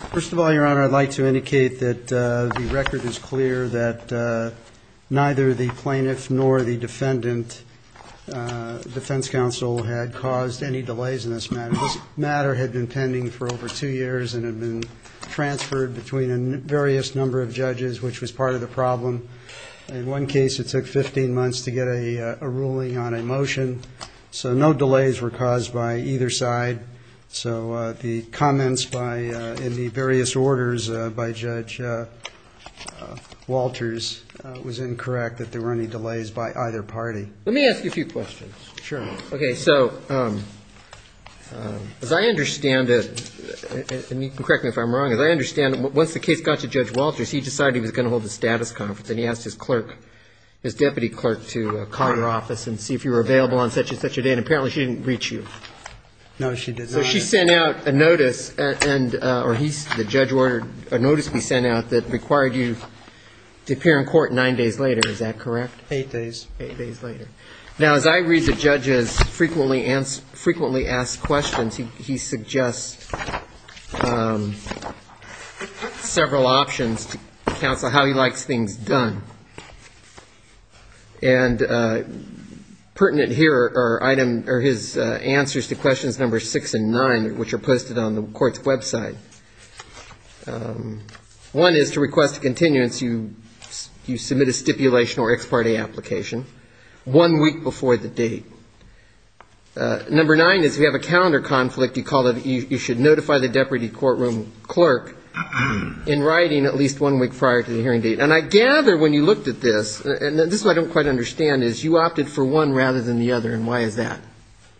First of all, Your Honor, I'd like to indicate that the record is clear that neither the plaintiff nor the defendant, Defense Counsel, had caused any delays in this matter. This matter had been pending for over two years and had been transferred between a various number of judges, which was part of the problem. In one case, it took 15 months to get a ruling on a motion, so no delays were caused by either side. So the comments in the various orders by Judge Walters was incorrect that there were any delays by either party. Let me ask you a few questions. Sure. Okay, so as I understand it, and you can correct me if I'm wrong, as I understand it, once the case got to Judge Walters, he decided he was going to hold a status conference, and he asked his clerk, his deputy clerk, to call your office and see if you were available on such and such a date, and apparently she didn't reach you. No, she did not. So she sent out a notice, or the judge ordered a notice be sent out that required you to appear in court nine days later. Is that correct? Eight days. Eight days later. Now, as I read the judge's frequently asked questions, he suggests several options to counsel how he likes things done. And pertinent here are his answers to questions number six and nine, which are posted on the court's website. One is to request a continuance, you submit a stipulation or ex parte application one week before the date. Number nine is if you have a calendar conflict, you should notify the deputy courtroom clerk in writing at least one week prior to the hearing date. And I gather when you looked at this, and this is what I don't quite understand, is you opted for one rather than the other, and why is that?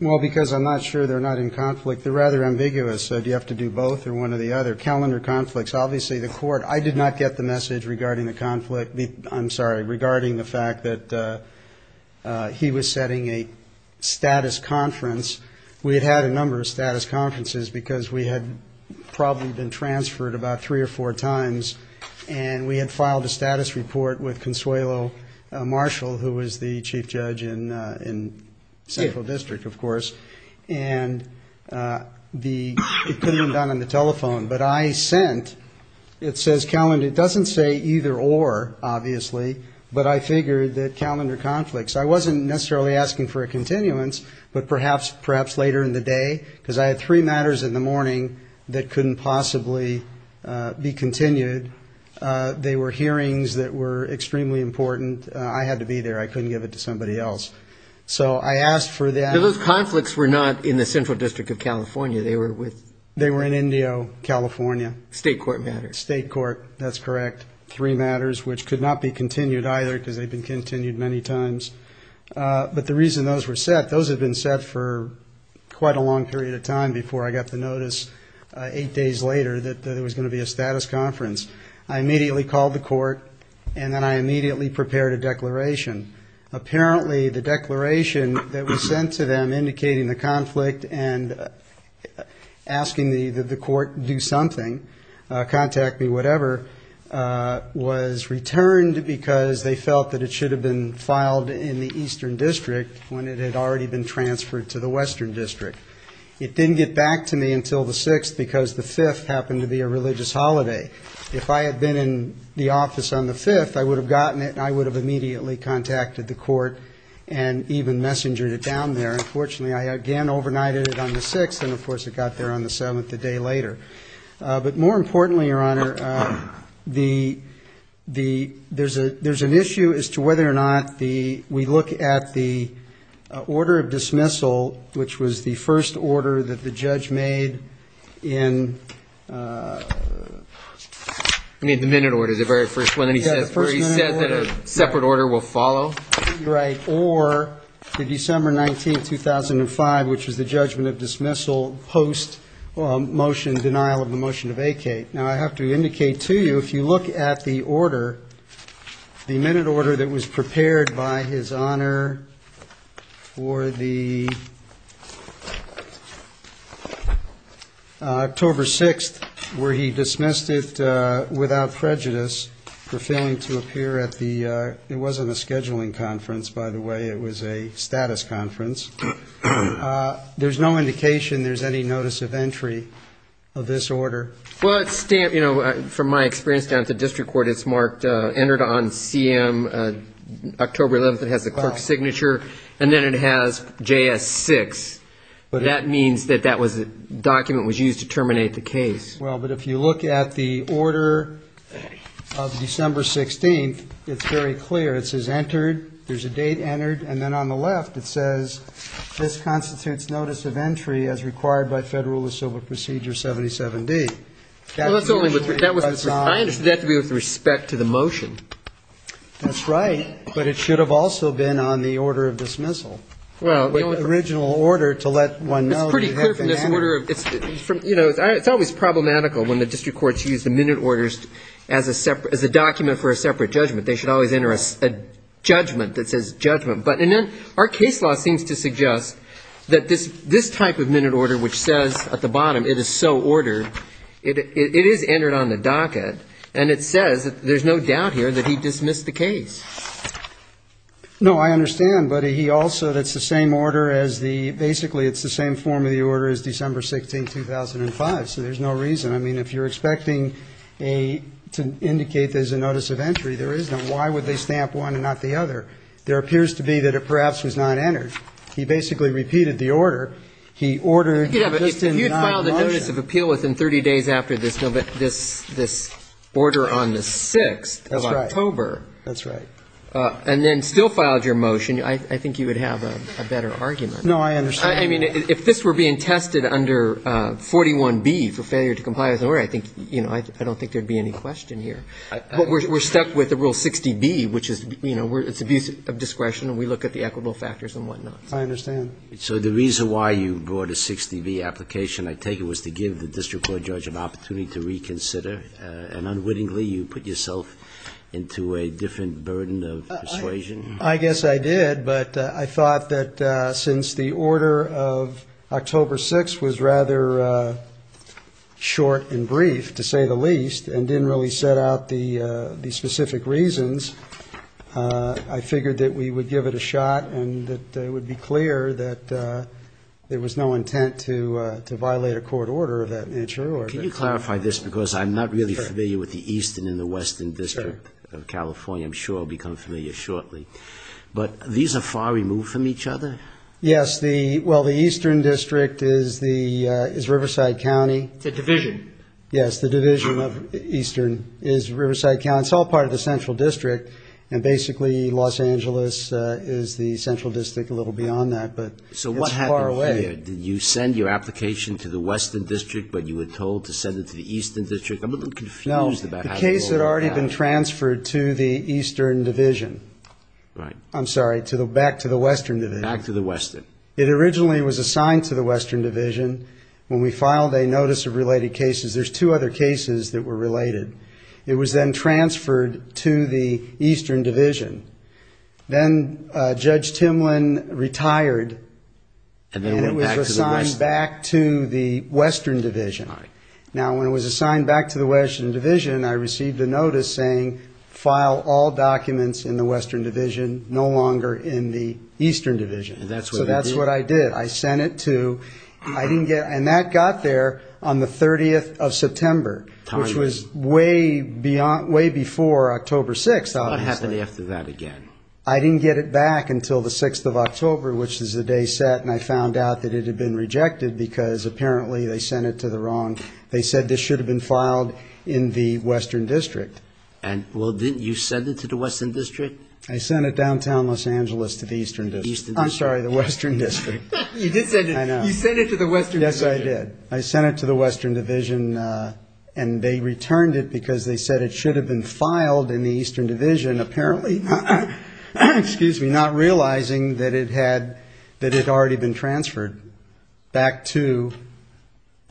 Well, because I'm not sure they're not in conflict. They're rather ambiguous. Do you have to do both or one or the other? Calendar conflicts, obviously the court, I did not get the message regarding the conflict, I'm sorry, regarding the fact that he was setting a status conference. We had had a number of status conferences because we had probably been transferred about three or four times, and we had filed a status report with Consuelo Marshall, who was the chief judge in central district, of course, and it couldn't have been done on the telephone. But I sent, it says calendar, it doesn't say either or, obviously, but I figured that calendar conflicts. I wasn't necessarily asking for a continuance, but perhaps later in the day, because I had three matters in the morning that couldn't possibly be continued. They were hearings that were extremely important. I had to be there. I couldn't give it to somebody else. So I asked for that. Those conflicts were not in the central district of California. They were with? They were in Indio, California. State court matters. State court, that's correct. Three matters, which could not be continued either because they'd been continued many times. But the reason those were set, those had been set for quite a long period of time before I got the notice eight days later that there was going to be a status conference. I immediately called the court, and then I immediately prepared a declaration. Apparently, the declaration that was sent to them indicating the conflict and asking the court to do something, contact me, whatever, was returned because they felt that it should have been filed in the eastern district when it had already been transferred to the western district. It didn't get back to me until the 6th because the 5th happened to be a religious holiday. If I had been in the office on the 5th, I would have gotten it, and I would have immediately contacted the court and even messengered it down there. Unfortunately, I again overnighted it on the 6th, and, of course, it got there on the 7th the day later. But more importantly, Your Honor, there's an issue as to whether or not we look at the order of dismissal, which was the first order that the judge made in the minute order, the very first one, where he said that a separate order will follow, or the December 19, 2005, which was the judgment of dismissal post-denial of the motion to vacate. Now, I have to indicate to you, if you look at the order, the minute order that was prepared by His Honor for the October 6th, where he dismissed it without prejudice for failing to appear at the ‑‑ there's no indication there's any notice of entry of this order. Well, it's stamped, you know, from my experience down at the district court, it's marked entered on CM October 11th. It has the clerk's signature, and then it has JS6. That means that that document was used to terminate the case. Well, but if you look at the order of December 16th, it's very clear. It says entered, there's a date entered, and then on the left it says this constitutes notice of entry as required by Federal Rule of Civil Procedure 77D. I understood that to be with respect to the motion. That's right. But it should have also been on the order of dismissal. The original order to let one know that you have to ‑‑ It's pretty clear from this order. You know, it's always problematical when the district courts use the minute orders as a document for a separate judgment. They should always enter a judgment that says judgment. But our case law seems to suggest that this type of minute order, which says at the bottom it is so ordered, it is entered on the docket, and it says there's no doubt here that he dismissed the case. No, I understand. But he also ‑‑ it's the same order as the ‑‑ basically it's the same form of the order as December 16th, 2005, so there's no reason. I mean, if you're expecting to indicate there's a notice of entry, there is none. Why would they stamp one and not the other? There appears to be that it perhaps was not entered. He basically repeated the order. He ordered just in that motion. Yeah, but if you'd filed a notice of appeal within 30 days after this order on the 6th of October. That's right. And then still filed your motion, I think you would have a better argument. No, I understand. I mean, if this were being tested under 41B for failure to comply with the order, I think, you know, I don't think there would be any question here. But we're stuck with the rule 60B, which is, you know, it's abuse of discretion and we look at the equitable factors and whatnot. I understand. So the reason why you brought a 60B application, I take it, was to give the district court judge an opportunity to reconsider, and unwittingly you put yourself into a different burden of persuasion? I guess I did, but I thought that since the order of October 6th was rather short and brief, to say the least, and didn't really set out the specific reasons, I figured that we would give it a shot and that it would be clear that there was no intent to violate a court order of that nature. Can you clarify this? Because I'm not really familiar with the eastern and the western district of California. I'm sure I'll become familiar shortly. But these are far removed from each other? Yes. Well, the eastern district is Riverside County. It's a division. Yes. The division of eastern is Riverside County. It's all part of the central district, and basically Los Angeles is the central district a little beyond that. But it's far away. So what happened here? Did you send your application to the western district, but you were told to send it to the eastern district? I'm a little confused about how you rolled that out. No. The case had already been transferred to the eastern division. Right. I'm sorry, back to the western division. Back to the western. It originally was assigned to the western division. When we filed a notice of related cases, there's two other cases that were related. It was then transferred to the eastern division. Then Judge Timlin retired, and it was assigned back to the western division. All right. Now, when it was assigned back to the western division, I received a notice saying file all documents in the western division, no longer in the eastern division. And that's what you did? So that's what I did. I sent it to ñ and that got there on the 30th of September, which was way before October 6th, obviously. It's not half a day after that again. I didn't get it back until the 6th of October, which is the day set, and I found out that it had been rejected because apparently they sent it to the wrong ñ they said this should have been filed in the western district. Well, didn't you send it to the western district? I sent it downtown Los Angeles to the eastern district. Eastern district. I'm sorry, the western district. You did send it. I know. You sent it to the western division. Yes, I did. I sent it to the western division, and they returned it because they said it should have been filed in the eastern division, apparently not realizing that it had already been transferred back to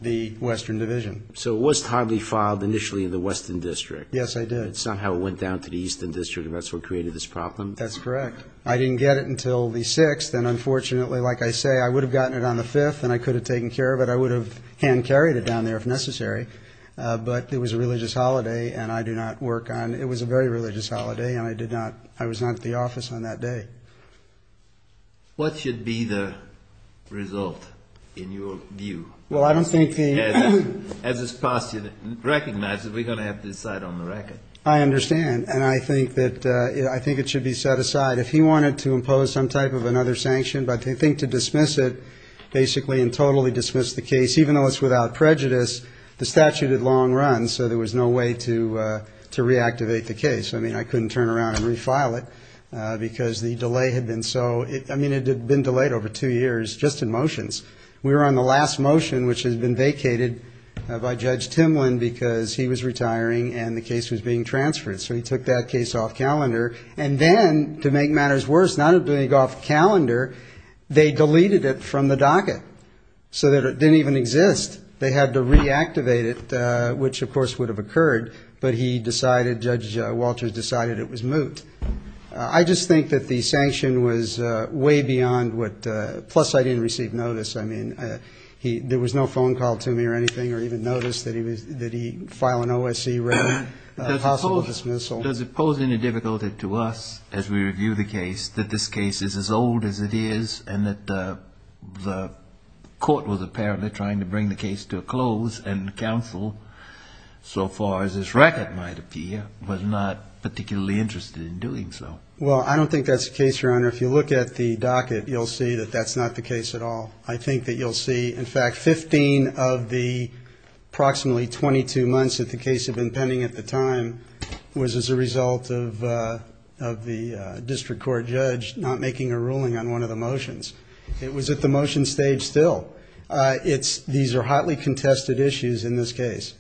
the western division. So it was timely filed initially in the western district. Yes, I did. But somehow it went down to the eastern district, and that's what created this problem. That's correct. I didn't get it until the 6th, and unfortunately, like I say, I would have gotten it on the 5th, and I could have taken care of it. I would have hand-carried it down there if necessary. But it was a religious holiday, and I do not work on ñ it was a very religious holiday, and I did not ñ I was not at the office on that day. What should be the result in your view? Well, I don't think the ñ as this past year recognizes, we're going to have to decide on the record. I understand, and I think that it should be set aside. If he wanted to impose some type of another sanction, but they think to dismiss it basically and totally dismiss the case, even though it's without prejudice, the statute had long run, so there was no way to reactivate the case. I mean, I couldn't turn around and refile it because the delay had been so ñ I mean, it had been delayed over two years just in motions. We were on the last motion, which has been vacated by Judge Timlin, because he was retiring and the case was being transferred. So he took that case off calendar. And then, to make matters worse, not doing it off calendar, they deleted it from the docket, so that it didn't even exist. They had to reactivate it, which, of course, would have occurred. But he decided ñ Judge Walters decided it was moot. I just think that the sanction was way beyond what ñ I mean, there was no phone call to me or anything, or even notice that he file an OSC written possible dismissal. Does it pose any difficulty to us, as we review the case, that this case is as old as it is and that the court was apparently trying to bring the case to a close and counsel, so far as this record might appear, was not particularly interested in doing so? Well, I don't think that's the case, Your Honor. If you look at the docket, you'll see that that's not the case at all. I think that you'll see, in fact, 15 of the approximately 22 months that the case had been pending at the time was as a result of the district court judge not making a ruling on one of the motions. It was at the motion stage still. It's ñ these are hotly contested issues in this case.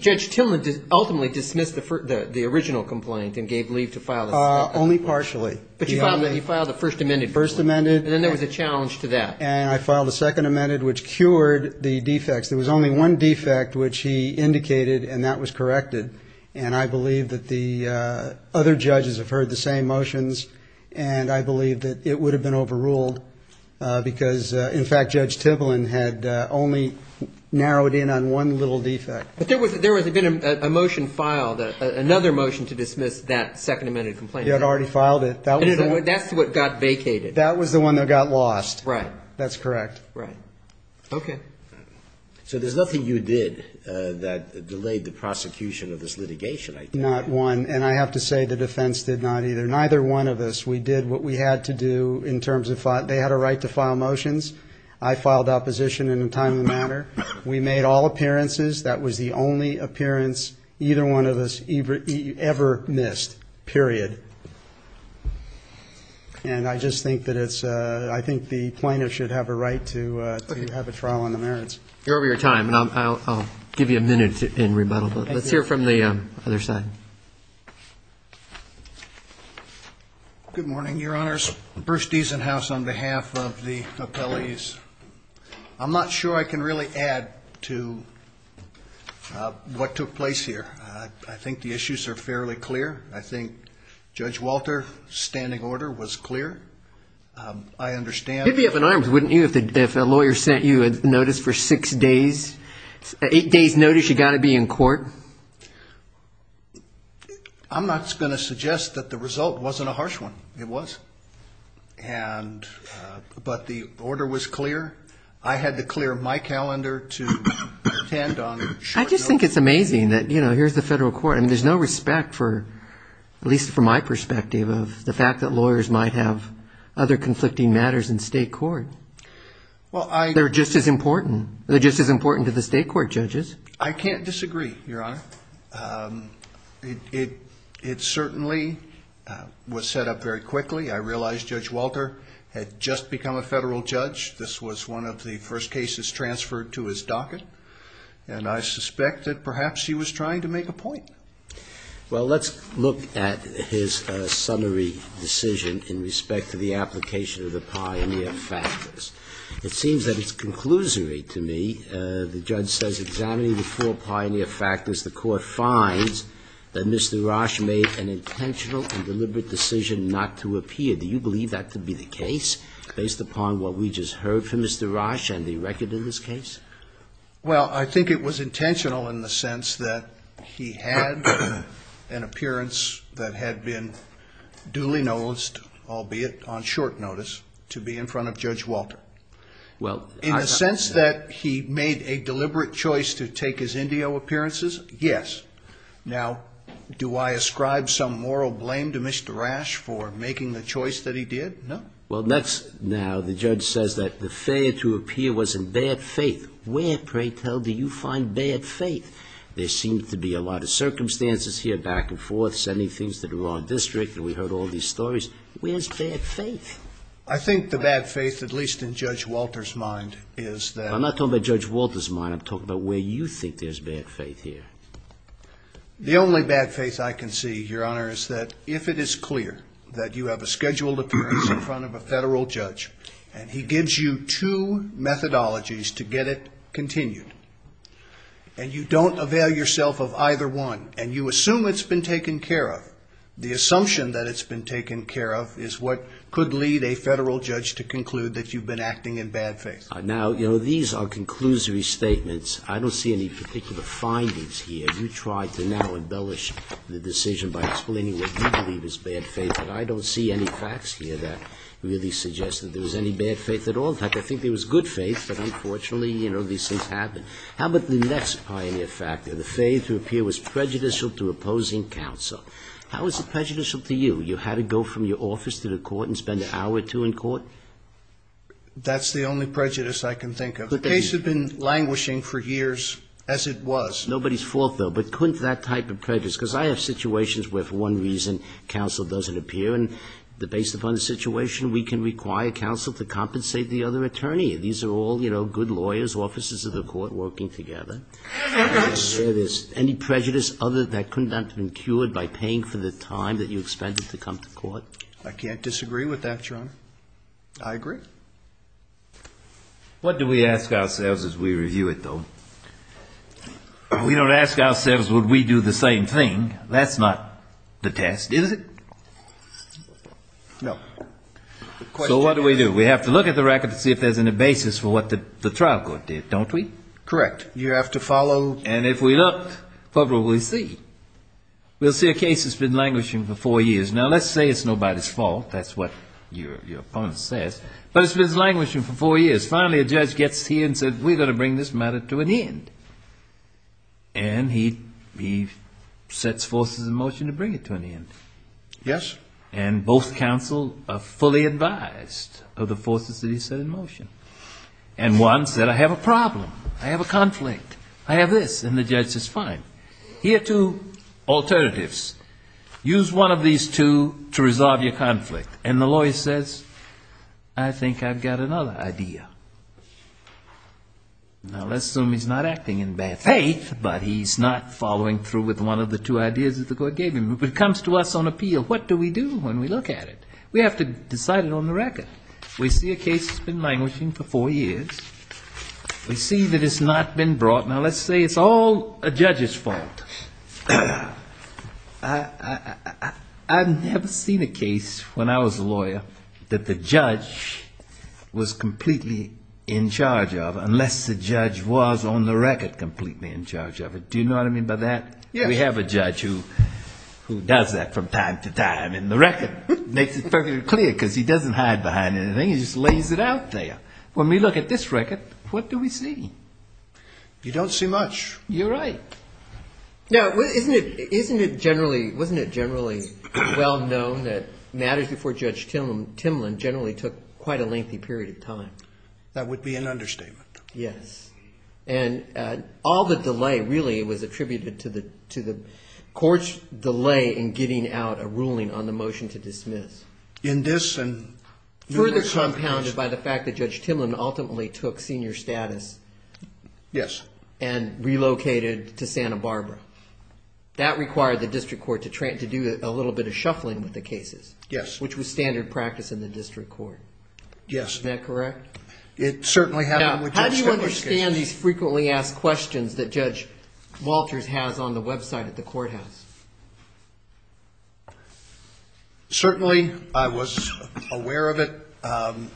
Judge Tillman ultimately dismissed the original complaint and gave leave to file the second one. Only partially. But you filed the first amended complaint. First amended. And then there was a challenge to that. And I filed a second amended, which cured the defects. There was only one defect, which he indicated, and that was corrected. And I believe that the other judges have heard the same motions, and I believe that it would have been overruled because, in fact, Judge Tillman had only narrowed in on one little defect. But there was a motion filed, another motion to dismiss that second amended complaint. He had already filed it. That's what got vacated. That was the one that got lost. Right. That's correct. Right. Okay. So there's nothing you did that delayed the prosecution of this litigation, I take it? Not one. And I have to say the defense did not either. Neither one of us. We did what we had to do in terms of ñ they had a right to file motions. I filed opposition in a timely manner. We made all appearances. That was the only appearance either one of us ever missed, period. And I just think that it's ñ I think the plaintiff should have a right to have a trial on the merits. You're over your time, and I'll give you a minute in rebuttal. Thank you. Let's hear from the other side. Good morning, Your Honors. Bruce Diesenhaus on behalf of the appellees. I'm not sure I can really add to what took place here. I think the issues are fairly clear. I think Judge Walter's standing order was clear. I understand ñ You'd be up in arms, wouldn't you, if a lawyer sent you a notice for six days? An eight-days notice, you've got to be in court? I'm not going to suggest that the result wasn't a harsh one. It was. And ñ but the order was clear. I had to clear my calendar to attend on short notice. I just think it's amazing that, you know, here's the federal court. I mean, there's no respect for, at least from my perspective, of the fact that lawyers might have other conflicting matters in state court. Well, I ñ They're just as important. They're just as important to the state court, judges. I can't disagree, Your Honor. It certainly was set up very quickly. I realize Judge Walter had just become a federal judge. This was one of the first cases transferred to his docket. And I suspect that perhaps he was trying to make a point. Well, let's look at his summary decision in respect to the application of the pioneer factors. It seems that it's conclusory to me. The judge says, examining the four pioneer factors, the court finds that Mr. Rasch made an intentional and deliberate decision not to appear. Do you believe that to be the case, based upon what we just heard from Mr. Rasch and the record in this case? Well, I think it was intentional in the sense that he had an appearance that had been duly noticed, albeit on short notice, to be in front of Judge Walter. In the sense that he made a deliberate choice to take his Indio appearances, yes. Now, do I ascribe some moral blame to Mr. Rasch for making the choice that he did? No. Well, now the judge says that the failure to appear was in bad faith. Where, pray tell, do you find bad faith? There seems to be a lot of circumstances here, back and forth, sending things to the wrong district, and we heard all these stories. Where's bad faith? I think the bad faith, at least in Judge Walter's mind, is that – I'm not talking about Judge Walter's mind. I'm talking about where you think there's bad faith here. The only bad faith I can see, Your Honor, is that if it is clear that you have a scheduled appearance in front of a Federal judge and he gives you two methodologies to get it continued, and you don't avail yourself of either one, and you assume it's been taken care of, the assumption that it's been taken care of is what could lead a Federal judge to conclude that you've been acting in bad faith. Now, you know, these are conclusory statements. I don't see any particular findings here. You tried to now embellish the decision by explaining what you believe is bad faith, but I don't see any facts here that really suggest that there was any bad faith at all. In fact, I think there was good faith, but unfortunately, you know, these things happen. How about the next pioneer factor, the failure to appear was prejudicial to opposing counsel. How is it prejudicial to you? You had to go from your office to the court and spend an hour or two in court? That's the only prejudice I can think of. The case had been languishing for years as it was. Nobody's fault, though, but couldn't that type of prejudice, because I have situations where for one reason counsel doesn't appear, and based upon the situation, we can require counsel to compensate the other attorney. These are all, you know, good lawyers, officers of the court working together. There it is. Any prejudice other than that couldn't have been cured by paying for the time that I can't disagree with that, Your Honor. I agree. What do we ask ourselves as we review it, though? We don't ask ourselves would we do the same thing. That's not the test, is it? No. So what do we do? We have to look at the record to see if there's any basis for what the trial court did, don't we? Correct. You have to follow. And if we look, what will we see? We'll see a case that's been languishing for four years. Now, let's say it's nobody's fault. That's what your opponent says. But it's been languishing for four years. Finally, a judge gets here and says, we're going to bring this matter to an end. And he sets forces in motion to bring it to an end. Yes. And both counsel are fully advised of the forces that he set in motion. And one said, I have a problem. I have a conflict. I have this. And the judge says, fine. Here are two alternatives. Use one of these two to resolve your conflict. And the lawyer says, I think I've got another idea. Now, let's assume he's not acting in bad faith, but he's not following through with one of the two ideas that the court gave him. But it comes to us on appeal. What do we do when we look at it? We have to decide it on the record. We see a case that's been languishing for four years. We see that it's not been brought. Now, let's say it's all a judge's fault. I've never seen a case when I was a lawyer that the judge was completely in charge of unless the judge was on the record completely in charge of it. Do you know what I mean by that? Yes. We have a judge who does that from time to time in the record. Makes it perfectly clear because he doesn't hide behind anything. He just lays it out there. When we look at this record, what do we see? You don't see much. You're right. Now, isn't it generally well known that matters before Judge Timlin generally took quite a lengthy period of time? That would be an understatement. Yes. And all the delay really was attributed to the court's delay in getting out a ruling on the motion to dismiss. Further compounded by the fact that Judge Timlin ultimately took senior status. Yes. And relocated to Santa Barbara. That required the district court to do a little bit of shuffling with the cases. Yes. Which was standard practice in the district court. Yes. Isn't that correct? It certainly happened with Judge Timlin. Now, how do you understand these frequently asked questions that Judge Walters has on the website at the courthouse? Certainly, I was aware of it.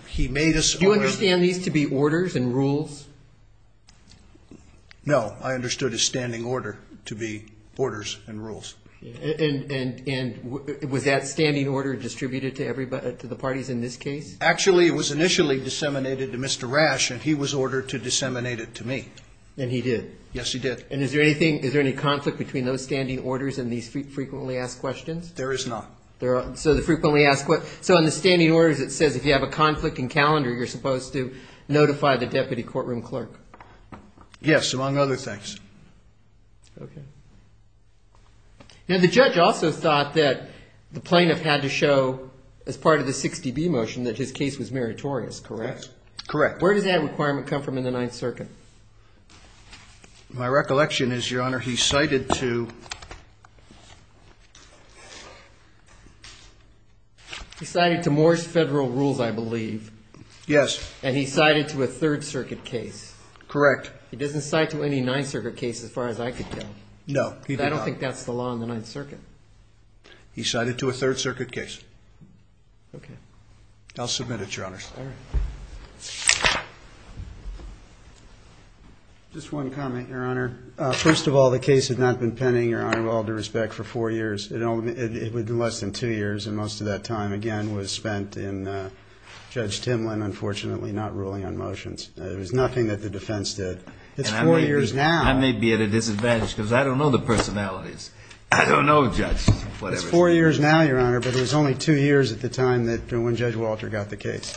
He made us aware of it. Do you understand these to be orders and rules? No. I understood a standing order to be orders and rules. And was that standing order distributed to the parties in this case? Actually, it was initially disseminated to Mr. Rash, and he was ordered to disseminate it to me. And he did? Yes, he did. And is there any conflict between those standing orders and these frequently asked questions? There is not. So the frequently asked questions. So in the standing orders, it says if you have a conflict in calendar, you're supposed to notify the deputy courtroom clerk. Yes, among other things. Okay. Now, the judge also thought that the plaintiff had to show as part of the 60B motion that his case was meritorious, correct? Correct. Where does that requirement come from in the Ninth Circuit? My recollection is, Your Honor, he cited to... He cited to more federal rules, I believe. Yes. And he cited to a Third Circuit case. Correct. He doesn't cite to any Ninth Circuit case as far as I could tell. No, he did not. I don't think that's the law in the Ninth Circuit. He cited to a Third Circuit case. Okay. I'll submit it, Your Honor. All right. Just one comment, Your Honor. First of all, the case had not been pending, Your Honor, with all due respect, for four years. It was less than two years, and most of that time, again, was spent in Judge Timlin, unfortunately, not ruling on motions. It was nothing that the defense did. It's four years now. I may be at a disadvantage because I don't know the personalities. I don't know, Judge. It's four years now, Your Honor, but it was only two years at the time when Judge Walter got the case.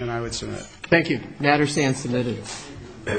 And I would submit. Thank you. Matter stands submitted.